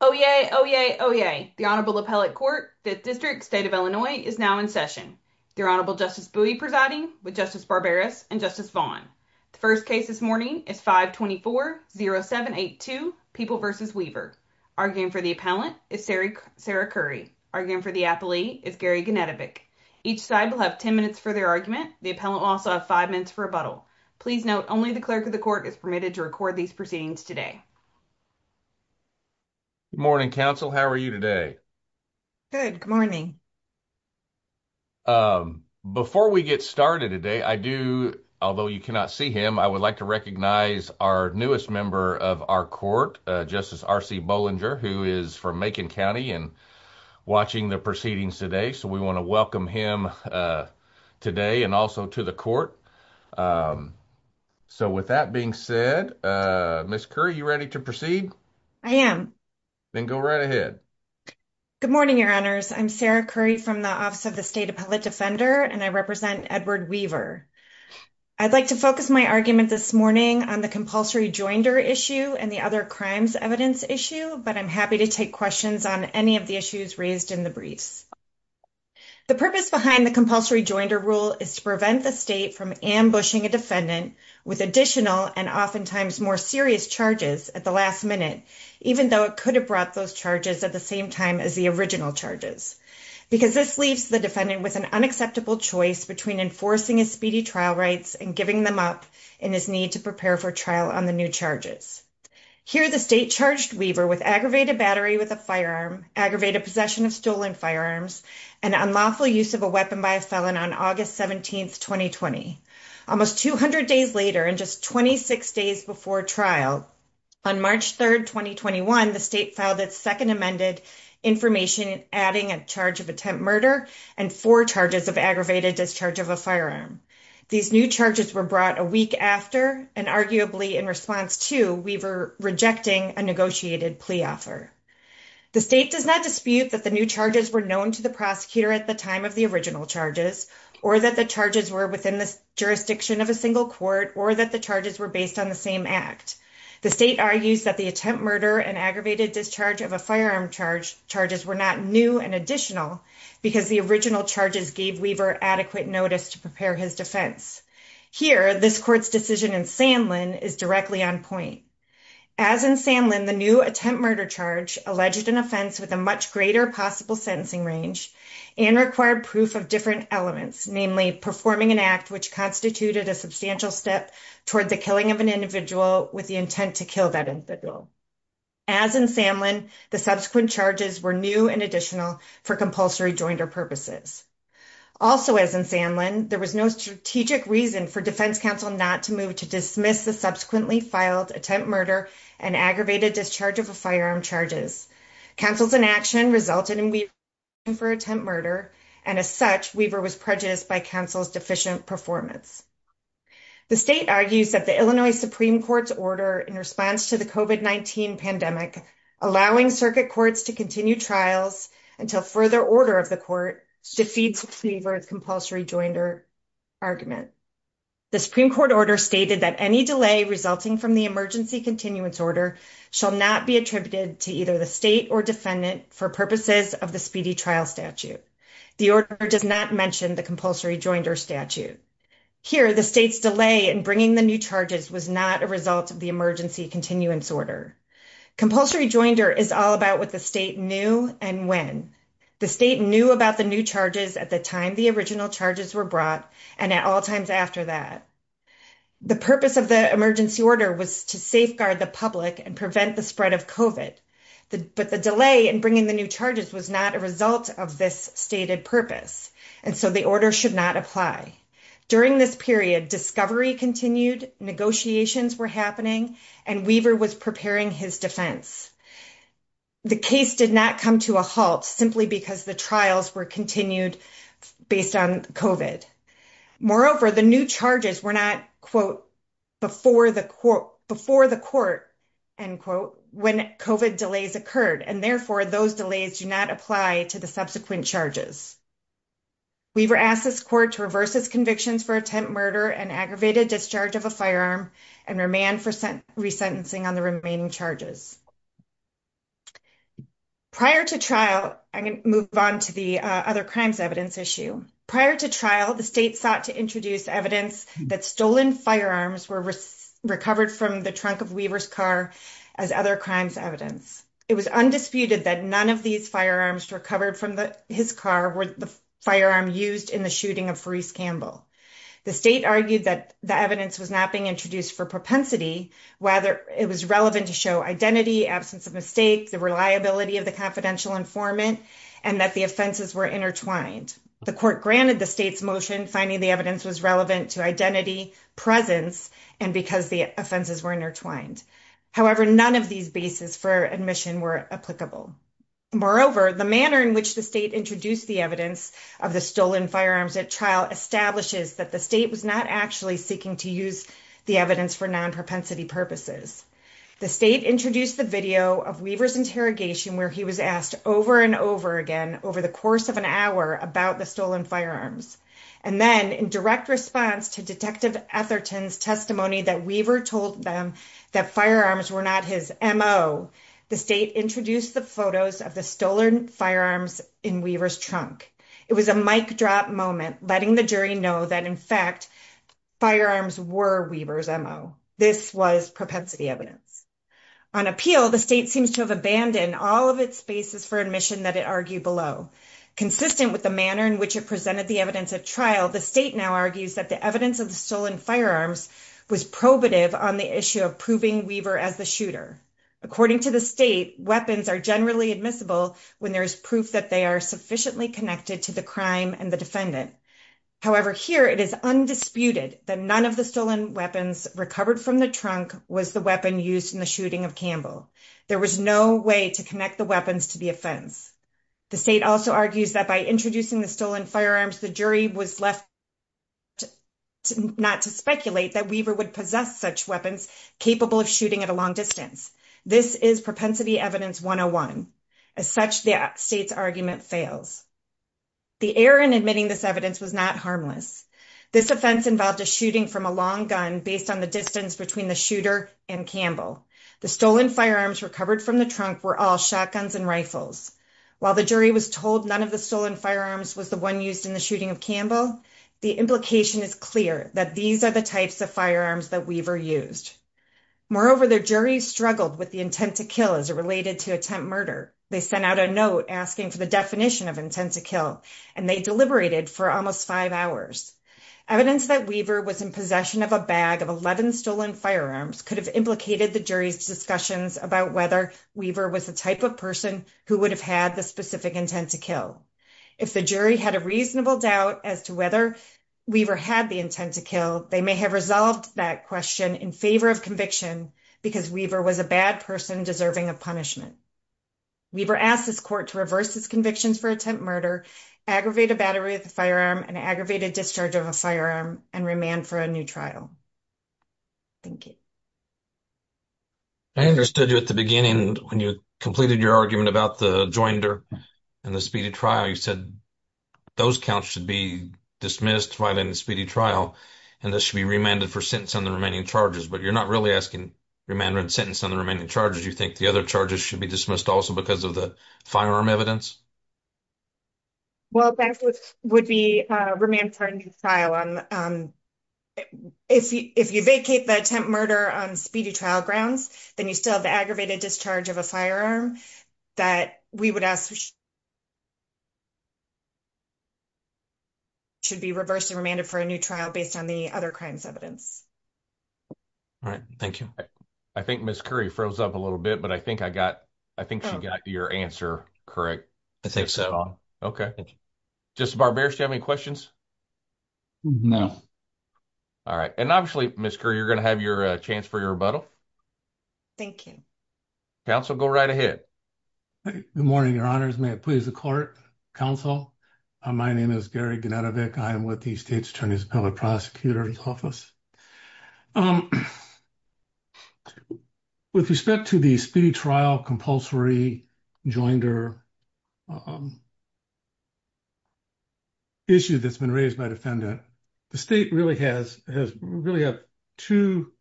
Oh yay, oh yay, oh yay! The Honorable Appellate Court, 5th District, State of Illinois, is now in session. The Honorable Justice Bowie presiding, with Justice Barberas and Justice Vaughn. The first case this morning is 524-0782, People v. Weaver. Arguing for the appellant is Sarah Curry. Arguing for the appellee is Gary Ganetovic. Each side will have 10 minutes for their argument. The appellant will also have 5 minutes for rebuttal. Please note, only the Clerk of the Court is permitted to record these proceedings today. Good morning, Counsel. How are you today? Good, good morning. Before we get started today, I do, although you cannot see him, I would like to recognize our newest member of our Court, Justice R.C. Bollinger, who is from Macon County and watching the proceedings today. So we want to welcome him today and also to the Court. So with that being said, Ms. Curry, are you ready to proceed? I am. Then go right ahead. Good morning, Your Honors. I'm Sarah Curry from the Office of the State Appellate Defender, and I represent Edward Weaver. I'd like to focus my argument this morning on the compulsory joinder issue and the other crimes evidence issue, but I'm happy to take questions on any of the issues raised in the briefs. The purpose behind the compulsory joinder rule is to prevent the state from ambushing a defendant with additional and oftentimes more serious charges at the last minute, even though it could have brought those charges at the same time as the original charges, because this leaves the defendant with an unacceptable choice between enforcing his speedy trial rights and giving them up in his need to prepare for trial on the new charges. Here, the state charged Weaver with aggravated battery with a firearm, aggravated possession of stolen firearms, and unlawful use of a weapon by a felon on August 17th, 2020, almost 200 days later and just 26 days before trial. On March 3rd, 2021, the state filed its second amended information, adding a charge of attempt murder and four charges of aggravated discharge of a firearm. These new charges were brought a week after and arguably in response to Weaver rejecting a negotiated plea offer. The state does not dispute that the new charges were known to the prosecutor at the time of the original charges or that the charges were within the jurisdiction of a single court or that the charges were based on the same act. The state argues that the attempt murder and aggravated discharge of a firearm charges were not new and additional because the original charges gave Weaver adequate notice to prepare his defense. Here, this court's decision in Sanlin is directly on point. As in Sanlin, the new attempt murder charge alleged an offense with a much greater possible sentencing range and required proof of different elements, namely performing an act which constituted a substantial step toward the killing of an individual with the intent to kill that individual. As in Sanlin, the subsequent charges were new and additional for compulsory joinder purposes. Also, as in Sanlin, there was no strategic reason for defense counsel not to move to dismiss the subsequently filed attempt murder and aggravated discharge of a firearm charges. Counsel's inaction resulted in Weaver asking for attempt murder. And as such, Weaver was prejudiced by counsel's deficient performance. The state argues that the Illinois Supreme Court's order in response to the COVID-19 pandemic allowing circuit courts to continue trials until further order of the court defeats Weaver's compulsory joinder argument. The Supreme Court order stated that any delay resulting from the emergency continuance order shall not be attributed to either the state or defendant for purposes of the speedy trial statute. The order does not mention the compulsory joinder statute. Here, the state's delay in bringing the new charges was not a result of the emergency continuance order. Compulsory joinder is all about what the state knew and when. The state knew about the new charges at the time the original charges were brought and at all times after that. The purpose of the emergency order was to safeguard the public and prevent the spread of COVID. But the delay in bringing the new charges was not a result of this stated purpose. And so the order should not apply. During this period, discovery continued, negotiations were happening, and Weaver was preparing his defense. The case did not come to a halt simply because the trials were continued based on COVID. Moreover, the new charges were not, quote, before the court, end quote, when COVID delays occurred. And therefore, those delays do not apply to the subsequent charges. Weaver asked this court to reverse his convictions for attempt murder and aggravated discharge of a firearm and remand for resentencing on the remaining charges. Prior to trial, I'm going to move on to the other crimes evidence issue. Prior to trial, the state sought to introduce evidence that stolen firearms were recovered from the trunk of Weaver's car as other crimes evidence. It was undisputed that none of these firearms recovered from his car were the firearm used in the shooting of Fereece Campbell. The state argued that the evidence was not being introduced for propensity, whether it was relevant to show identity, absence of mistake, the reliability of the confidential informant, and that the offenses were intertwined. The court granted the state's motion finding the evidence was relevant to identity, presence, and because the offenses were intertwined. However, none of these bases for admission were applicable. Moreover, the manner in which the state introduced the evidence of the stolen firearms at trial establishes that the state was not actually seeking to use the evidence for non-propensity purposes. The state introduced the video of Weaver's interrogation where he was asked over and over again over the course of an hour about the stolen firearms. And then in direct response to Detective Etherton's testimony that Weaver told them that firearms were not his M.O., the state introduced the photos of the stolen firearms in Weaver's trunk. It was a mic drop moment, letting the jury know that, in fact, firearms were Weaver's M.O. This was propensity evidence. On appeal, the state seems to have abandoned all of its bases for admission that it argued below, consistent with the manner in which it presented the evidence at trial. The state now argues that the evidence of the stolen firearms was probative on the issue of proving Weaver as the shooter. According to the state, weapons are generally admissible when there is proof that they are sufficiently connected to the crime and the defendant. However, here it is undisputed that none of the stolen weapons recovered from the trunk was the weapon used in the shooting of Campbell. There was no way to connect the weapons to the offense. The state also argues that by introducing the stolen firearms, the jury was left not to speculate that Weaver would possess such weapons capable of shooting at a long distance. This is propensity evidence 101. As such, the state's argument fails. The error in admitting this evidence was not harmless. This offense involved a shooting from a long gun based on the distance between the shooter and Campbell. The stolen firearms recovered from the trunk were all shotguns and rifles. While the jury was told none of the stolen firearms was the one used in the shooting of Campbell, the implication is clear that these are the types of firearms that Weaver used. Moreover, the jury struggled with the intent to kill as it related to attempt murder. They sent out a note asking for the definition of intent to kill, and they deliberated for almost five hours. Evidence that Weaver was in possession of a bag of 11 stolen firearms could have implicated the jury's discussions about whether Weaver was the type of person who would have had the specific intent to kill. If the jury had a reasonable doubt as to whether Weaver had the intent to kill, they may have resolved that question in favor of conviction because Weaver was a bad person deserving of punishment. Weaver asked his court to reverse his convictions for attempt murder, aggravate a battery with a firearm, and aggravate a discharge of a firearm, and remand for a new trial. Thank you. I understood you at the beginning when you completed your argument about the joinder and the speedy trial. You said those counts should be dismissed while in the speedy trial, and this should be remanded for sentence on the remaining charges. But you're not really asking remand and sentence on the remaining charges. You think the other charges should be dismissed also because of the firearm evidence? Well, that would be remanded for a new trial. If you vacate the attempt murder on speedy trial grounds, then you still have the aggravated discharge of a firearm that we would ask should be reversed and remanded for a new trial based on the other crimes evidence. All right. Thank you. I think Ms. Curry froze up a little bit, but I think she got your answer correct. I think so. Okay. Justice Barberis, do you have any questions? No. All right. And obviously, Ms. Curry, you're going to have your chance for your rebuttal. Thank you. Counsel, go right ahead. Good morning, Your Honors. May it please the court. Counsel, my name is Gary Genetovic. I am with the State's Attorney's Appellate Prosecutor's Office. With respect to the speedy trial compulsory joinder issue that's been raised by the defendant, the state really has two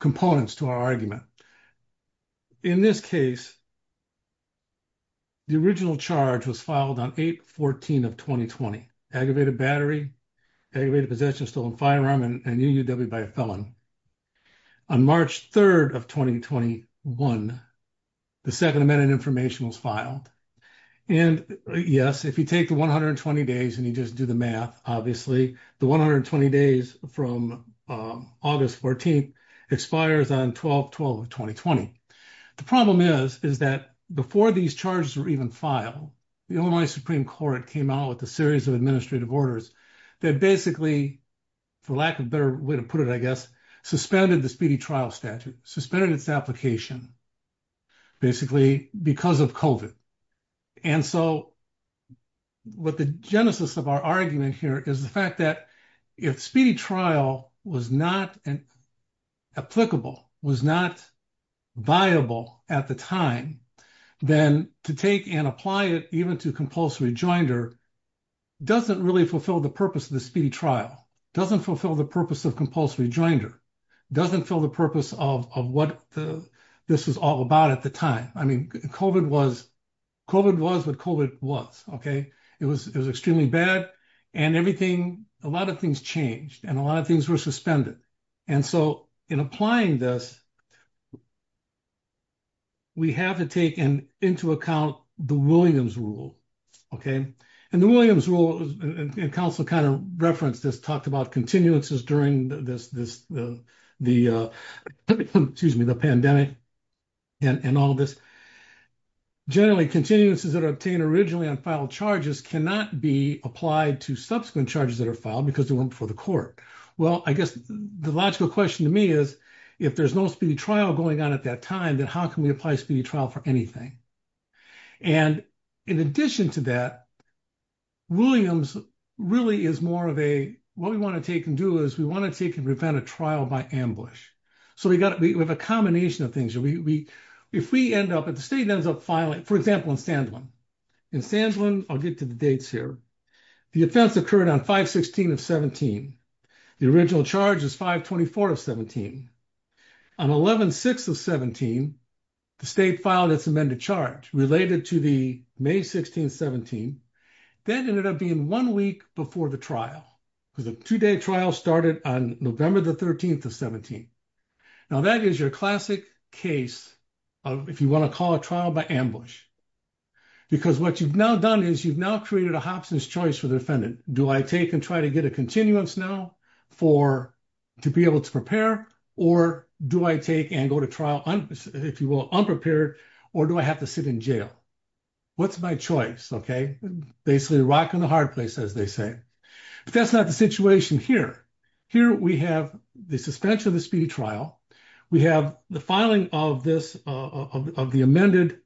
components to our argument. In this case, the original charge was filed on 8-14 of 2020, aggravated battery, aggravated possession of a stolen firearm and a new UW by a felon. On March 3rd of 2021, the Second Amendment information was filed. And, yes, if you take the 120 days and you just do the math, obviously, the 120 days from August 14th expires on 12-12 of 2020. The problem is, is that before these charges were even filed, the Illinois Supreme Court came out with a series of administrative orders that basically, for lack of a better way to put it, I guess, suspended the speedy trial statute. Suspended its application, basically, because of COVID. And so, what the genesis of our argument here is the fact that if speedy trial was not applicable, was not viable at the time, then to take and apply it even to compulsory joinder doesn't really fulfill the purpose of the speedy trial. Doesn't fulfill the purpose of compulsory joinder. Doesn't fill the purpose of what this was all about at the time. I mean, COVID was what COVID was, okay? It was extremely bad and everything, a lot of things changed and a lot of things were suspended. And so, in applying this, we have to take into account the Williams rule, okay? And the Williams rule, and counsel kind of referenced this, talked about continuances during the pandemic and all this. Generally, continuances that are obtained originally on final charges cannot be applied to subsequent charges that are filed because they weren't before the court. Well, I guess the logical question to me is, if there's no speedy trial going on at that time, then how can we apply speedy trial for anything? And in addition to that, Williams really is more of a, what we want to take and do is we want to take and prevent a trial by ambush. So, we have a combination of things. If we end up, if the state ends up filing, for example, in Sandlin. In Sandlin, I'll get to the dates here. The offense occurred on 5-16 of 17. The original charge is 5-24 of 17. On 11-6 of 17, the state filed its amended charge related to the May 16, 17. That ended up being one week before the trial because the two-day trial started on November the 13th of 17. Now, that is your classic case of if you want to call a trial by ambush because what you've now done is you've now created a Hobson's choice for the defendant. Do I take and try to get a continuance now to be able to prepare? Or do I take and go to trial, if you will, unprepared? Or do I have to sit in jail? What's my choice, okay? Basically, the rock and the hard place, as they say. But that's not the situation here. Here we have the suspension of the speedy trial. We have the filing of this, of the amended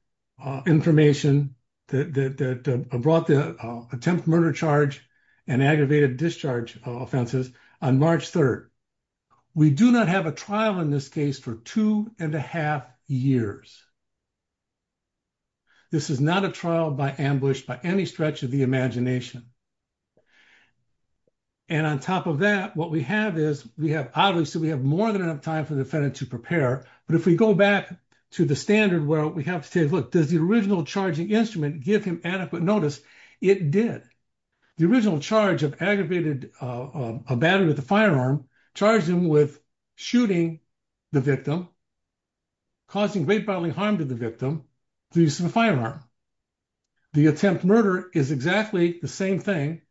information that brought the attempted murder charge and aggravated discharge offenses on March 3rd. We do not have a trial in this case for two and a half years. This is not a trial by ambush by any stretch of the imagination. And on top of that, what we have is we have, obviously, we have more than enough time for the defendant to prepare. But if we go back to the standard where we have to say, look, does the original charging instrument give him adequate notice? It did. The original charge of aggravated battery with a firearm charged him with shooting the victim, causing great bodily harm to the victim through the use of a firearm. The attempt murder is exactly the same thing.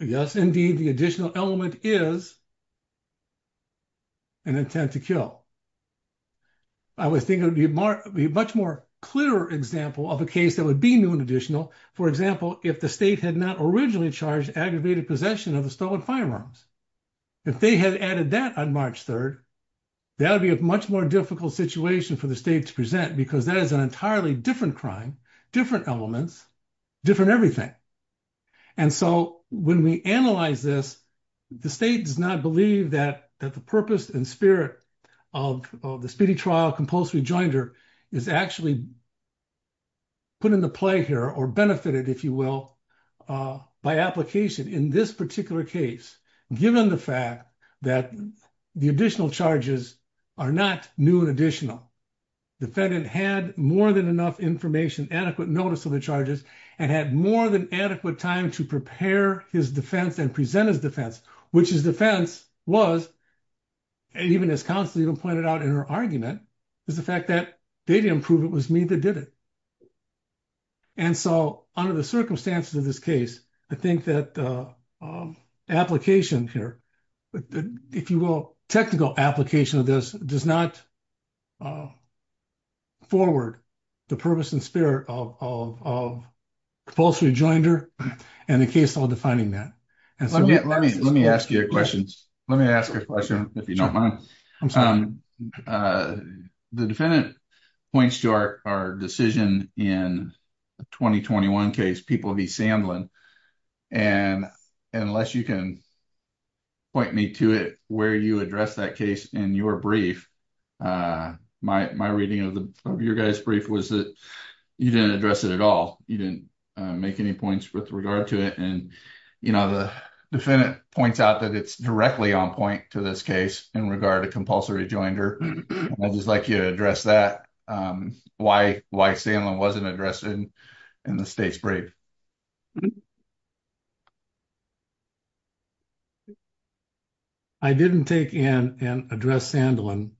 Yes, indeed, the additional element is an intent to kill. I would think it would be a much more clearer example of a case that would be new and additional. For example, if the state had not originally charged aggravated possession of the stolen firearms. If they had added that on March 3rd, that would be a much more difficult situation for the state to present because that is an entirely different crime, different elements, different everything. And so when we analyze this, the state does not believe that the purpose and spirit of the speedy trial compulsory joinder is actually put into play here or benefited, if you will, by application in this particular case, given the fact that the additional charges are not new and additional. The defendant had more than enough information, adequate notice of the charges, and had more than adequate time to prepare his defense and present his defense, which his defense was, even as counsel even pointed out in her argument, is the fact that they didn't prove it was me that did it. And so under the circumstances of this case, I think that application here, if you will, technical application of this does not forward the purpose and spirit of compulsory joinder and the case law defining that. Let me ask you a question. Let me ask a question if you don't mind. The defendant points to our decision in 2021 case people be Sandlin. And unless you can point me to it, where you address that case in your brief. My, my reading of your guys brief was that you didn't address it at all. You didn't make any points with regard to it. And, you know, the defendant points out that it's directly on point to this case in regard to compulsory joinder. I just like you to address that. Why why Sandlin wasn't addressed in the state's brief. I didn't take in and address Sandlin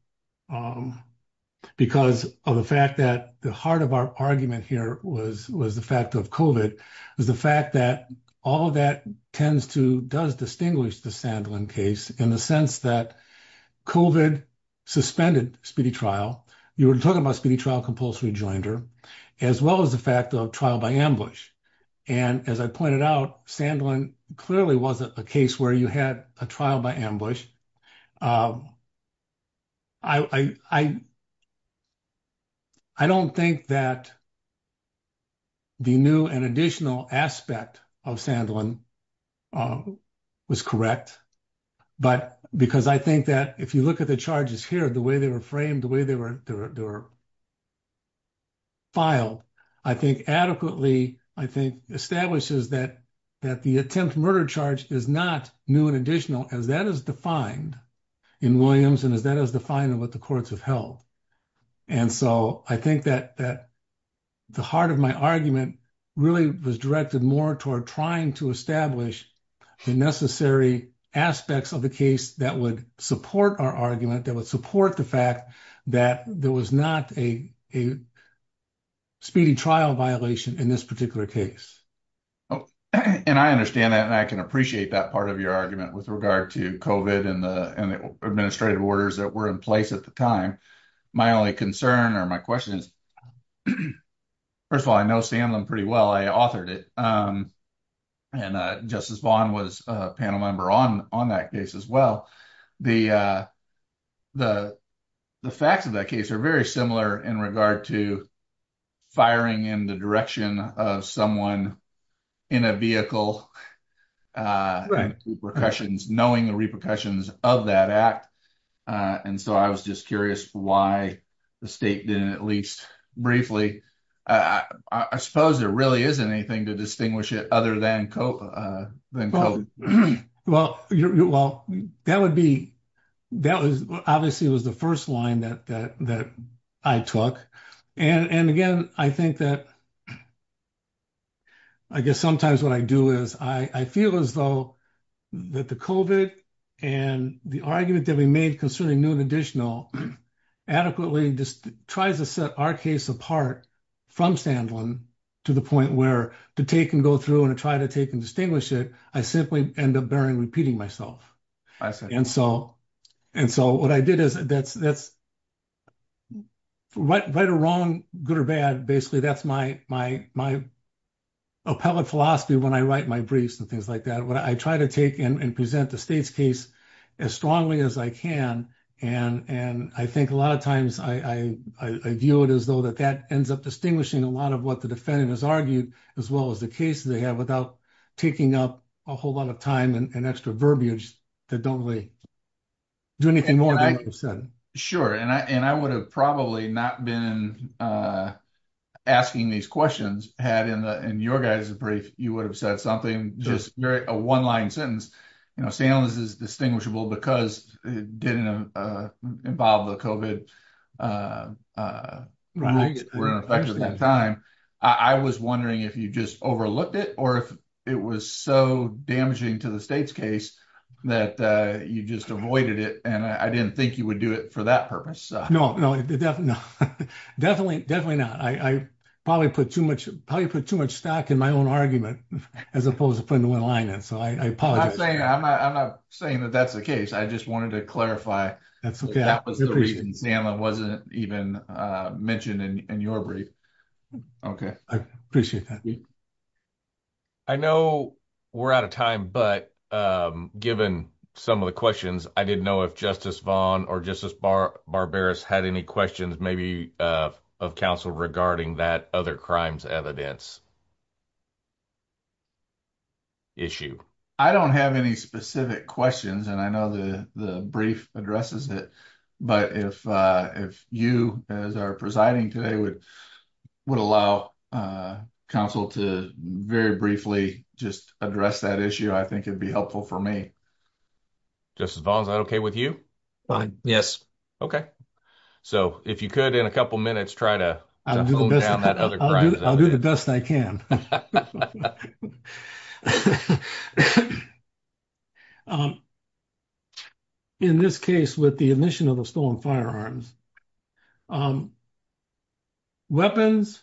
because of the fact that the heart of our argument here was was the fact of covert is the fact that all of that tends to does distinguish the Sandlin case in the sense that. Suspended speedy trial, you were talking about speedy trial, compulsory joinder as well as the fact of trial by ambush. And as I pointed out, Sandlin clearly wasn't a case where you had a trial by ambush. I don't think that. The new and additional aspect of Sandlin. Was correct, but because I think that if you look at the charges here, the way they were framed the way they were. Filed, I think, adequately, I think, establishes that that the attempt murder charge is not new and additional as that is defined in Williams and is that as the final with the courts of health. And so I think that that the heart of my argument really was directed more toward trying to establish the necessary aspects of the case that would support our argument that would support the fact that the. There was not a. Speedy trial violation in this particular case. And I understand that and I can appreciate that part of your argument with regard to coven and the administrative orders that were in place at the time. My only concern or my questions. First of all, I know Sandlin pretty well I authored it. And Justice Vaughn was a panel member on on that case as well. The, the, the facts of that case are very similar in regard to firing in the direction of someone in a vehicle. Right. Percussions knowing the repercussions of that act. And so I was just curious why the state didn't at least briefly. I suppose there really is anything to distinguish it other than cope. Well, well, that would be that was obviously was the 1st line that that I took and again, I think that. I guess sometimes what I do is I feel as though that the coven and the argument that we made concerning new and additional adequately just tries to set our case apart from Sandlin to the point where to take and go through and try to take and distinguish it. I simply end up bearing repeating myself. And so, and so what I did is that's that's right or wrong. Good or bad. Basically, that's my, my, my appellate philosophy when I write my briefs and things like that. But I try to take and present the state's case as strongly as I can. And, and I think a lot of times I, I, I view it as though that that ends up distinguishing a lot of what the defendant has argued as well as the case they have without taking up a whole lot of time and extra verbiage. That don't really do anything more than I said. Sure. And I, and I would have probably not been asking these questions had in the, in your guys brief, you would have said something just a 1 line sentence. I was wondering if you just overlooked it, or if it was so damaging to the state's case that you just avoided it. And I didn't think you would do it for that purpose. No, no, definitely. Definitely not. I probably put too much probably put too much stock in my own argument as opposed to putting the 1 line. And so I apologize. I'm not saying that that's the case. I just wanted to clarify that wasn't even mentioned in your brief. Okay, I appreciate that. I know we're out of time, but given some of the questions, I didn't know if justice Vaughn or just as barbarous had any questions, maybe of counsel regarding that other crimes evidence. Issue, I don't have any specific questions and I know the, the brief addresses it, but if if you as are presiding today would would allow counsel to very briefly just address that issue. I think it'd be helpful for me. Just as long as I'm okay with you. Yes. Okay. So, if you could, in a couple minutes, try to I'll do the best I can. In this case, with the admission of the stolen firearms. Weapons.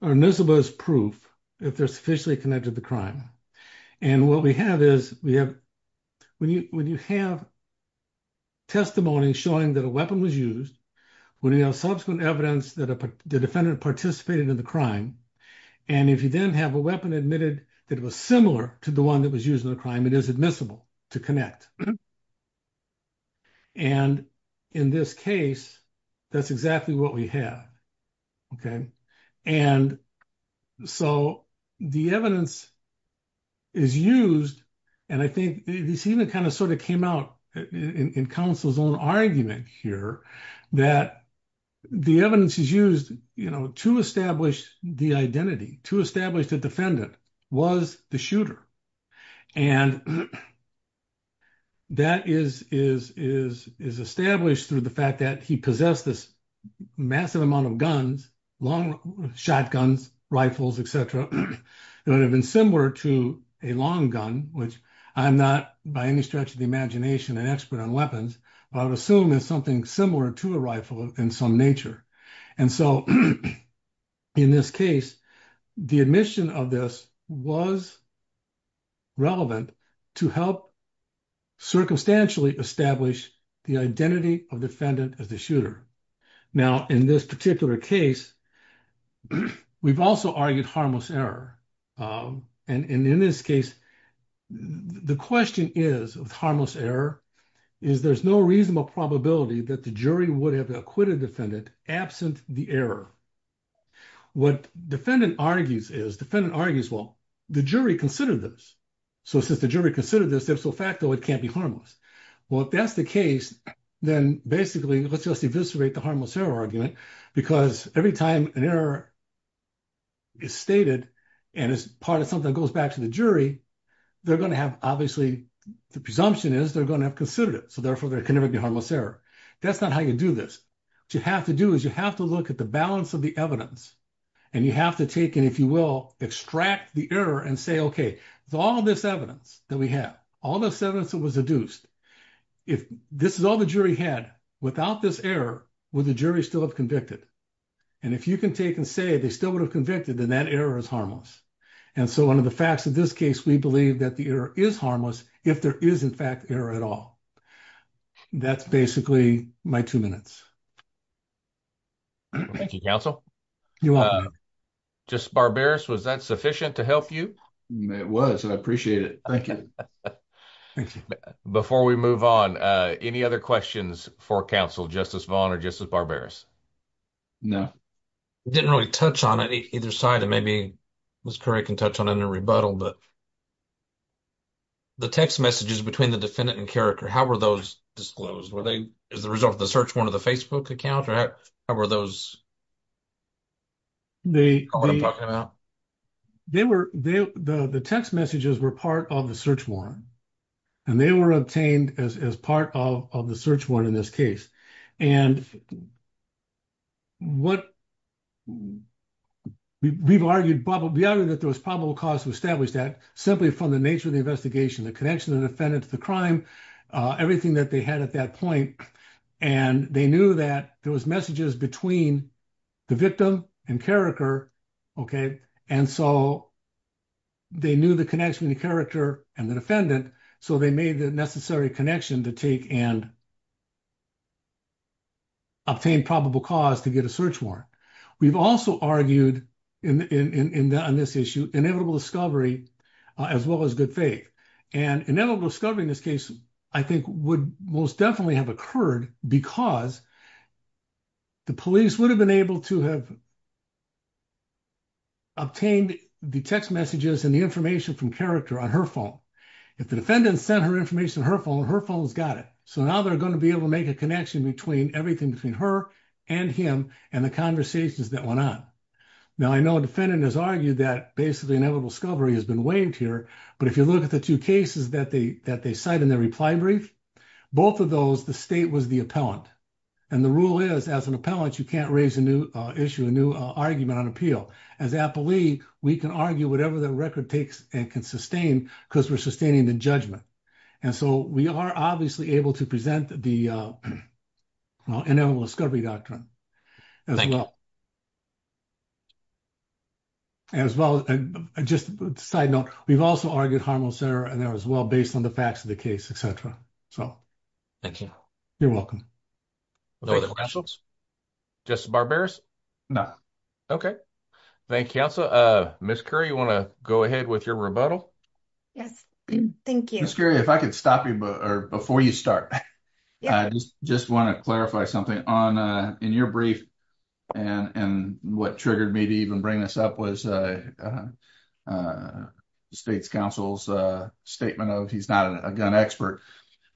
This was proof. If there's officially connected the crime. And what we have is we have when you, when you have testimony showing that a weapon was used when you have subsequent evidence that the defendant participated in the crime. And if you didn't have a weapon admitted that was similar to the one that was using the crime, it is admissible to connect. And in this case, that's exactly what we have. So, the evidence is used. And I think this even kind of sort of came out in counsel's own argument here that the evidence is used, you know, to establish the identity to establish the defendant was the shooter. And that is, is, is, is established through the fact that he possessed this massive amount of guns, long shotguns, rifles, etc. It would have been similar to a long gun, which I'm not by any stretch of the imagination and expert on weapons, but I would assume is something similar to a rifle in some nature. And so, in this case, the admission of this was relevant to help circumstantially establish the identity of defendant as the shooter. Now, in this particular case, we've also argued harmless error. And in this case, the question is, with harmless error, is there's no reasonable probability that the jury would have acquitted defendant absent the error. What defendant argues is, defendant argues, well, the jury considered this. So, since the jury considered this, there's no fact that it can't be harmless. Well, if that's the case, then basically, let's just eviscerate the harmless error argument, because every time an error is stated, and it's part of something that goes back to the jury, they're going to have, obviously, the presumption is they're going to have considered it. That's not how you do this. What you have to do is you have to look at the balance of the evidence, and you have to take and, if you will, extract the error and say, okay, with all this evidence that we have, all this evidence that was deduced, if this is all the jury had, without this error, would the jury still have convicted? And if you can take and say they still would have convicted, then that error is harmless. And so, under the facts of this case, we believe that the error is harmless if there is, in fact, error at all. That's basically my two minutes. Thank you, counsel. You're welcome. Justice Barberis, was that sufficient to help you? It was, and I appreciate it. Thank you. Thank you. Before we move on, any other questions for counsel, Justice Vaughn or Justice Barberis? No. I didn't really touch on it either side, and maybe Ms. Currie can touch on it in a rebuttal, but the text messages between the defendant and Carriker, how were those disclosed? Were they as a result of the search warrant of the Facebook account, or how were those? What are you talking about? The text messages were part of the search warrant, and they were obtained as part of the search warrant in this case. And we've argued that there was probable cause to establish that simply from the nature of the investigation, the connection of the defendant to the crime, everything that they had at that point. And they knew that there was messages between the victim and Carriker, and so they knew the connection of the character and the defendant, so they made the necessary connection to take and obtain probable cause to get a search warrant. We've also argued on this issue inevitable discovery as well as good faith. And inevitable discovery in this case, I think, would most definitely have occurred because the police would have been able to have obtained the text messages and the information from Carriker on her phone. If the defendant sent her information on her phone, her phone's got it. So now they're going to be able to make a connection between everything between her and him and the conversations that went on. Now, I know a defendant has argued that basically inevitable discovery has been waived here, but if you look at the two cases that they cite in their reply brief, both of those, the state was the appellant. And the rule is, as an appellant, you can't raise a new issue, a new argument on appeal. As an appellee, we can argue whatever the record takes and can sustain because we're sustaining the judgment. And so we are obviously able to present the inevitable discovery doctrine as well. And just a side note, we've also argued harmless error and that was well based on the facts of the case, etc. So, thank you. You're welcome. Just barbarous? No. Okay. Thank you. So, Miss Curry, you want to go ahead with your rebuttal? Yes, thank you. Miss Curry, if I could stop you before you start, I just want to clarify something. In your brief, and what triggered me to even bring this up was the state's counsel's statement of he's not a gun expert.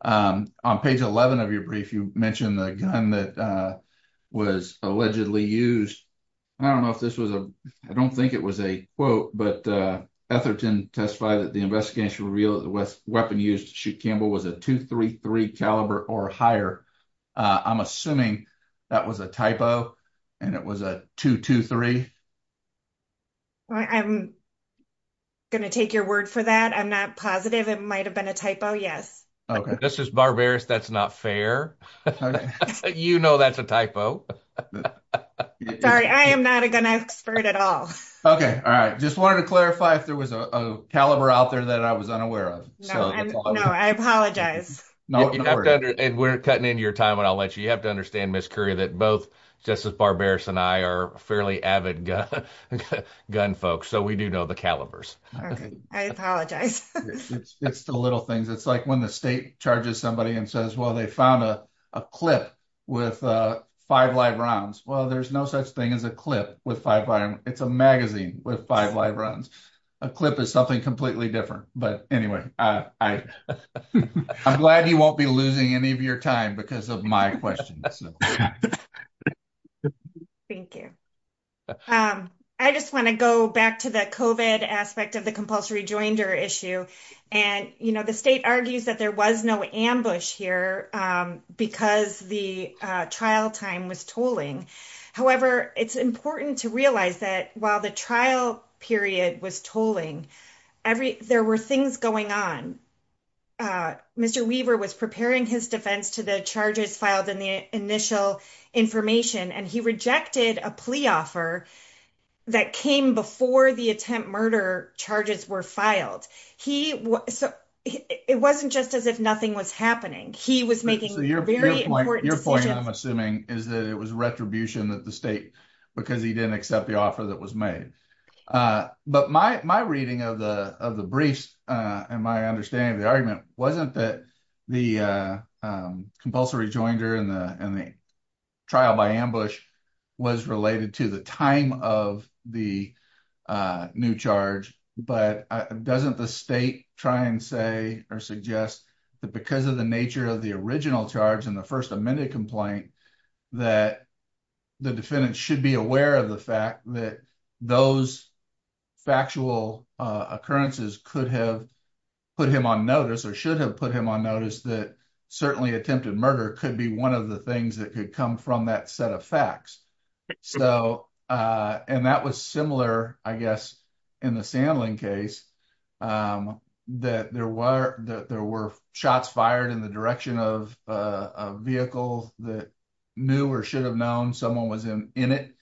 On page 11 of your brief, you mentioned the gun that was allegedly used. I don't know if this was a, I don't think it was a quote, but Etherton testified that the investigation revealed that the weapon used to shoot Campbell was a .233 caliber or higher. I'm assuming that was a typo and it was a .223. I'm going to take your word for that. I'm not positive. It might have been a typo. Yes. Okay, this is barbarous. That's not fair. You know, that's a typo. Sorry, I am not a gun expert at all. Okay. All right. Just wanted to clarify if there was a caliber out there that I was unaware of. No, I apologize. We're cutting into your time and I'll let you, you have to understand Miss Curry that both Justice Barbarous and I are fairly avid gun folks. So we do know the calibers. Okay, I apologize. It's the little things. It's like when the state charges somebody and says, well, they found a clip with five live rounds. Well, there's no such thing as a clip with five. It's a magazine with five live runs. A clip is something completely different. But anyway, I'm glad you won't be losing any of your time because of my question. Thank you. I just want to go back to the COVID aspect of the compulsory joinder issue. And, you know, the state argues that there was no ambush here because the trial time was tolling. However, it's important to realize that while the trial period was tolling, there were things going on. Mr. Weaver was preparing his defense to the charges filed in the initial information, and he rejected a plea offer that came before the attempt murder charges were filed. So it wasn't just as if nothing was happening. He was making very important decisions. Your point, I'm assuming, is that it was retribution that the state, because he didn't accept the offer that was made. But my reading of the briefs and my understanding of the argument wasn't that the compulsory joinder and the trial by ambush was related to the time of the new charge. But doesn't the state try and say or suggest that because of the nature of the original charge and the first amendment complaint, that the defendant should be aware of the fact that those factual occurrences could have put him on notice or should have put him on notice that certainly attempted murder could be one of the things that could come from that set of facts. And that was similar, I guess, in the Sandlin case, that there were shots fired in the direction of a vehicle that knew or should have known someone was in it.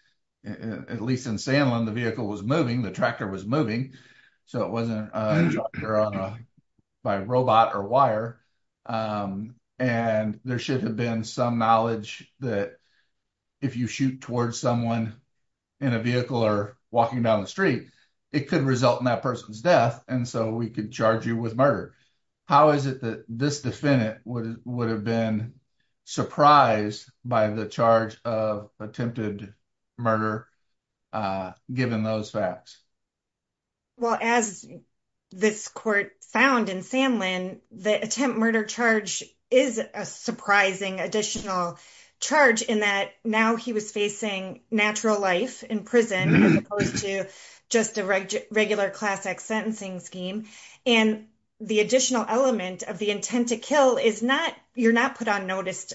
At least in Sandlin, the vehicle was moving, the tractor was moving. So it wasn't by robot or wire. And there should have been some knowledge that if you shoot towards someone in a vehicle or walking down the street, it could result in that person's death. And so we could charge you with murder. How is it that this defendant would have been surprised by the charge of attempted murder, given those facts? Well, as this court found in Sandlin, the attempt murder charge is a surprising additional charge in that now he was facing natural life in prison as opposed to just a regular classic sentencing scheme. And the additional element of the intent to kill is not you're not put on notice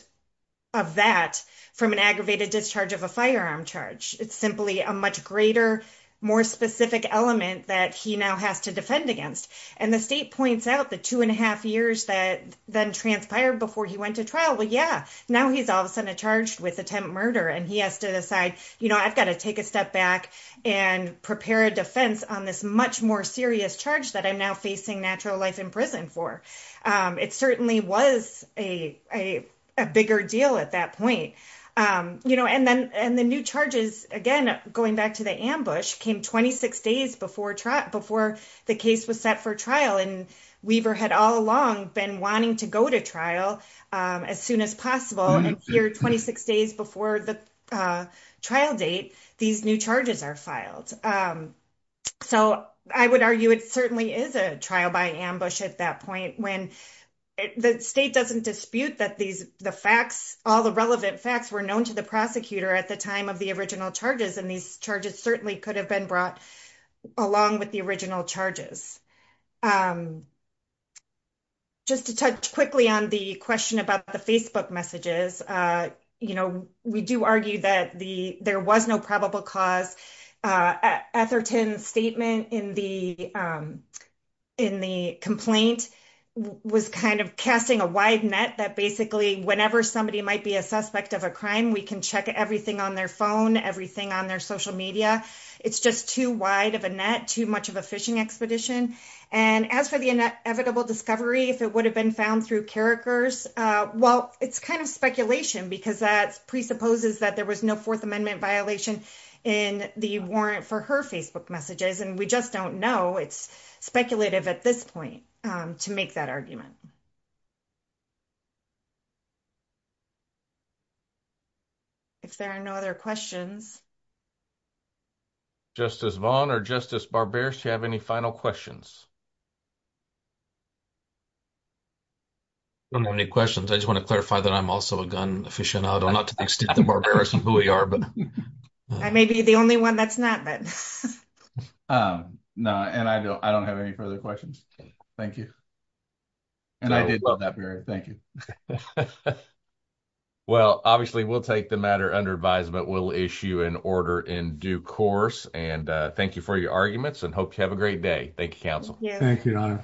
of that from an aggravated discharge of a firearm charge. It's simply a much greater, more specific element that he now has to defend against. And the state points out the two and a half years that then transpired before he went to trial. Well, yeah, now he's all of a sudden charged with attempt murder and he has to decide, you know, I've got to take a step back and prepare a defense on this much more serious charge that I'm now facing natural life in prison for. It certainly was a bigger deal at that point. You know, and then and the new charges, again, going back to the ambush, came 26 days before trial before the case was set for trial. And Weaver had all along been wanting to go to trial as soon as possible. And here, 26 days before the trial date, these new charges are filed. So I would argue it certainly is a trial by ambush at that point when the state doesn't dispute that these the facts, all the relevant facts were known to the prosecutor at the time of the original charges. And these charges certainly could have been brought along with the original charges. Just to touch quickly on the question about the Facebook messages, you know, we do argue that there was no probable cause. Etherton's statement in the complaint was kind of casting a wide net that basically whenever somebody might be a suspect of a crime, we can check everything on their phone, everything on their social media. It's just too wide of a net, too much of a fishing expedition. And as for the inevitable discovery, if it would have been found through Carrikers, well, it's kind of speculation because that presupposes that there was no Fourth Amendment violation in the warrant for her Facebook messages. And we just don't know. It's speculative at this point to make that argument. If there are no other questions. Justice Vaughn or Justice Barbera, do you have any final questions? I don't have any questions. I just want to clarify that I'm also a gun aficionado, not to the extent of Barbera and who we are, but. I may be the only one that's not, but. No, and I don't have any further questions. Thank you. And I did love that. Thank you. Well, obviously, we'll take the matter under advisement. We'll issue an order in due course and thank you for your arguments and hope you have a great day. Thank you. Council. Thank you.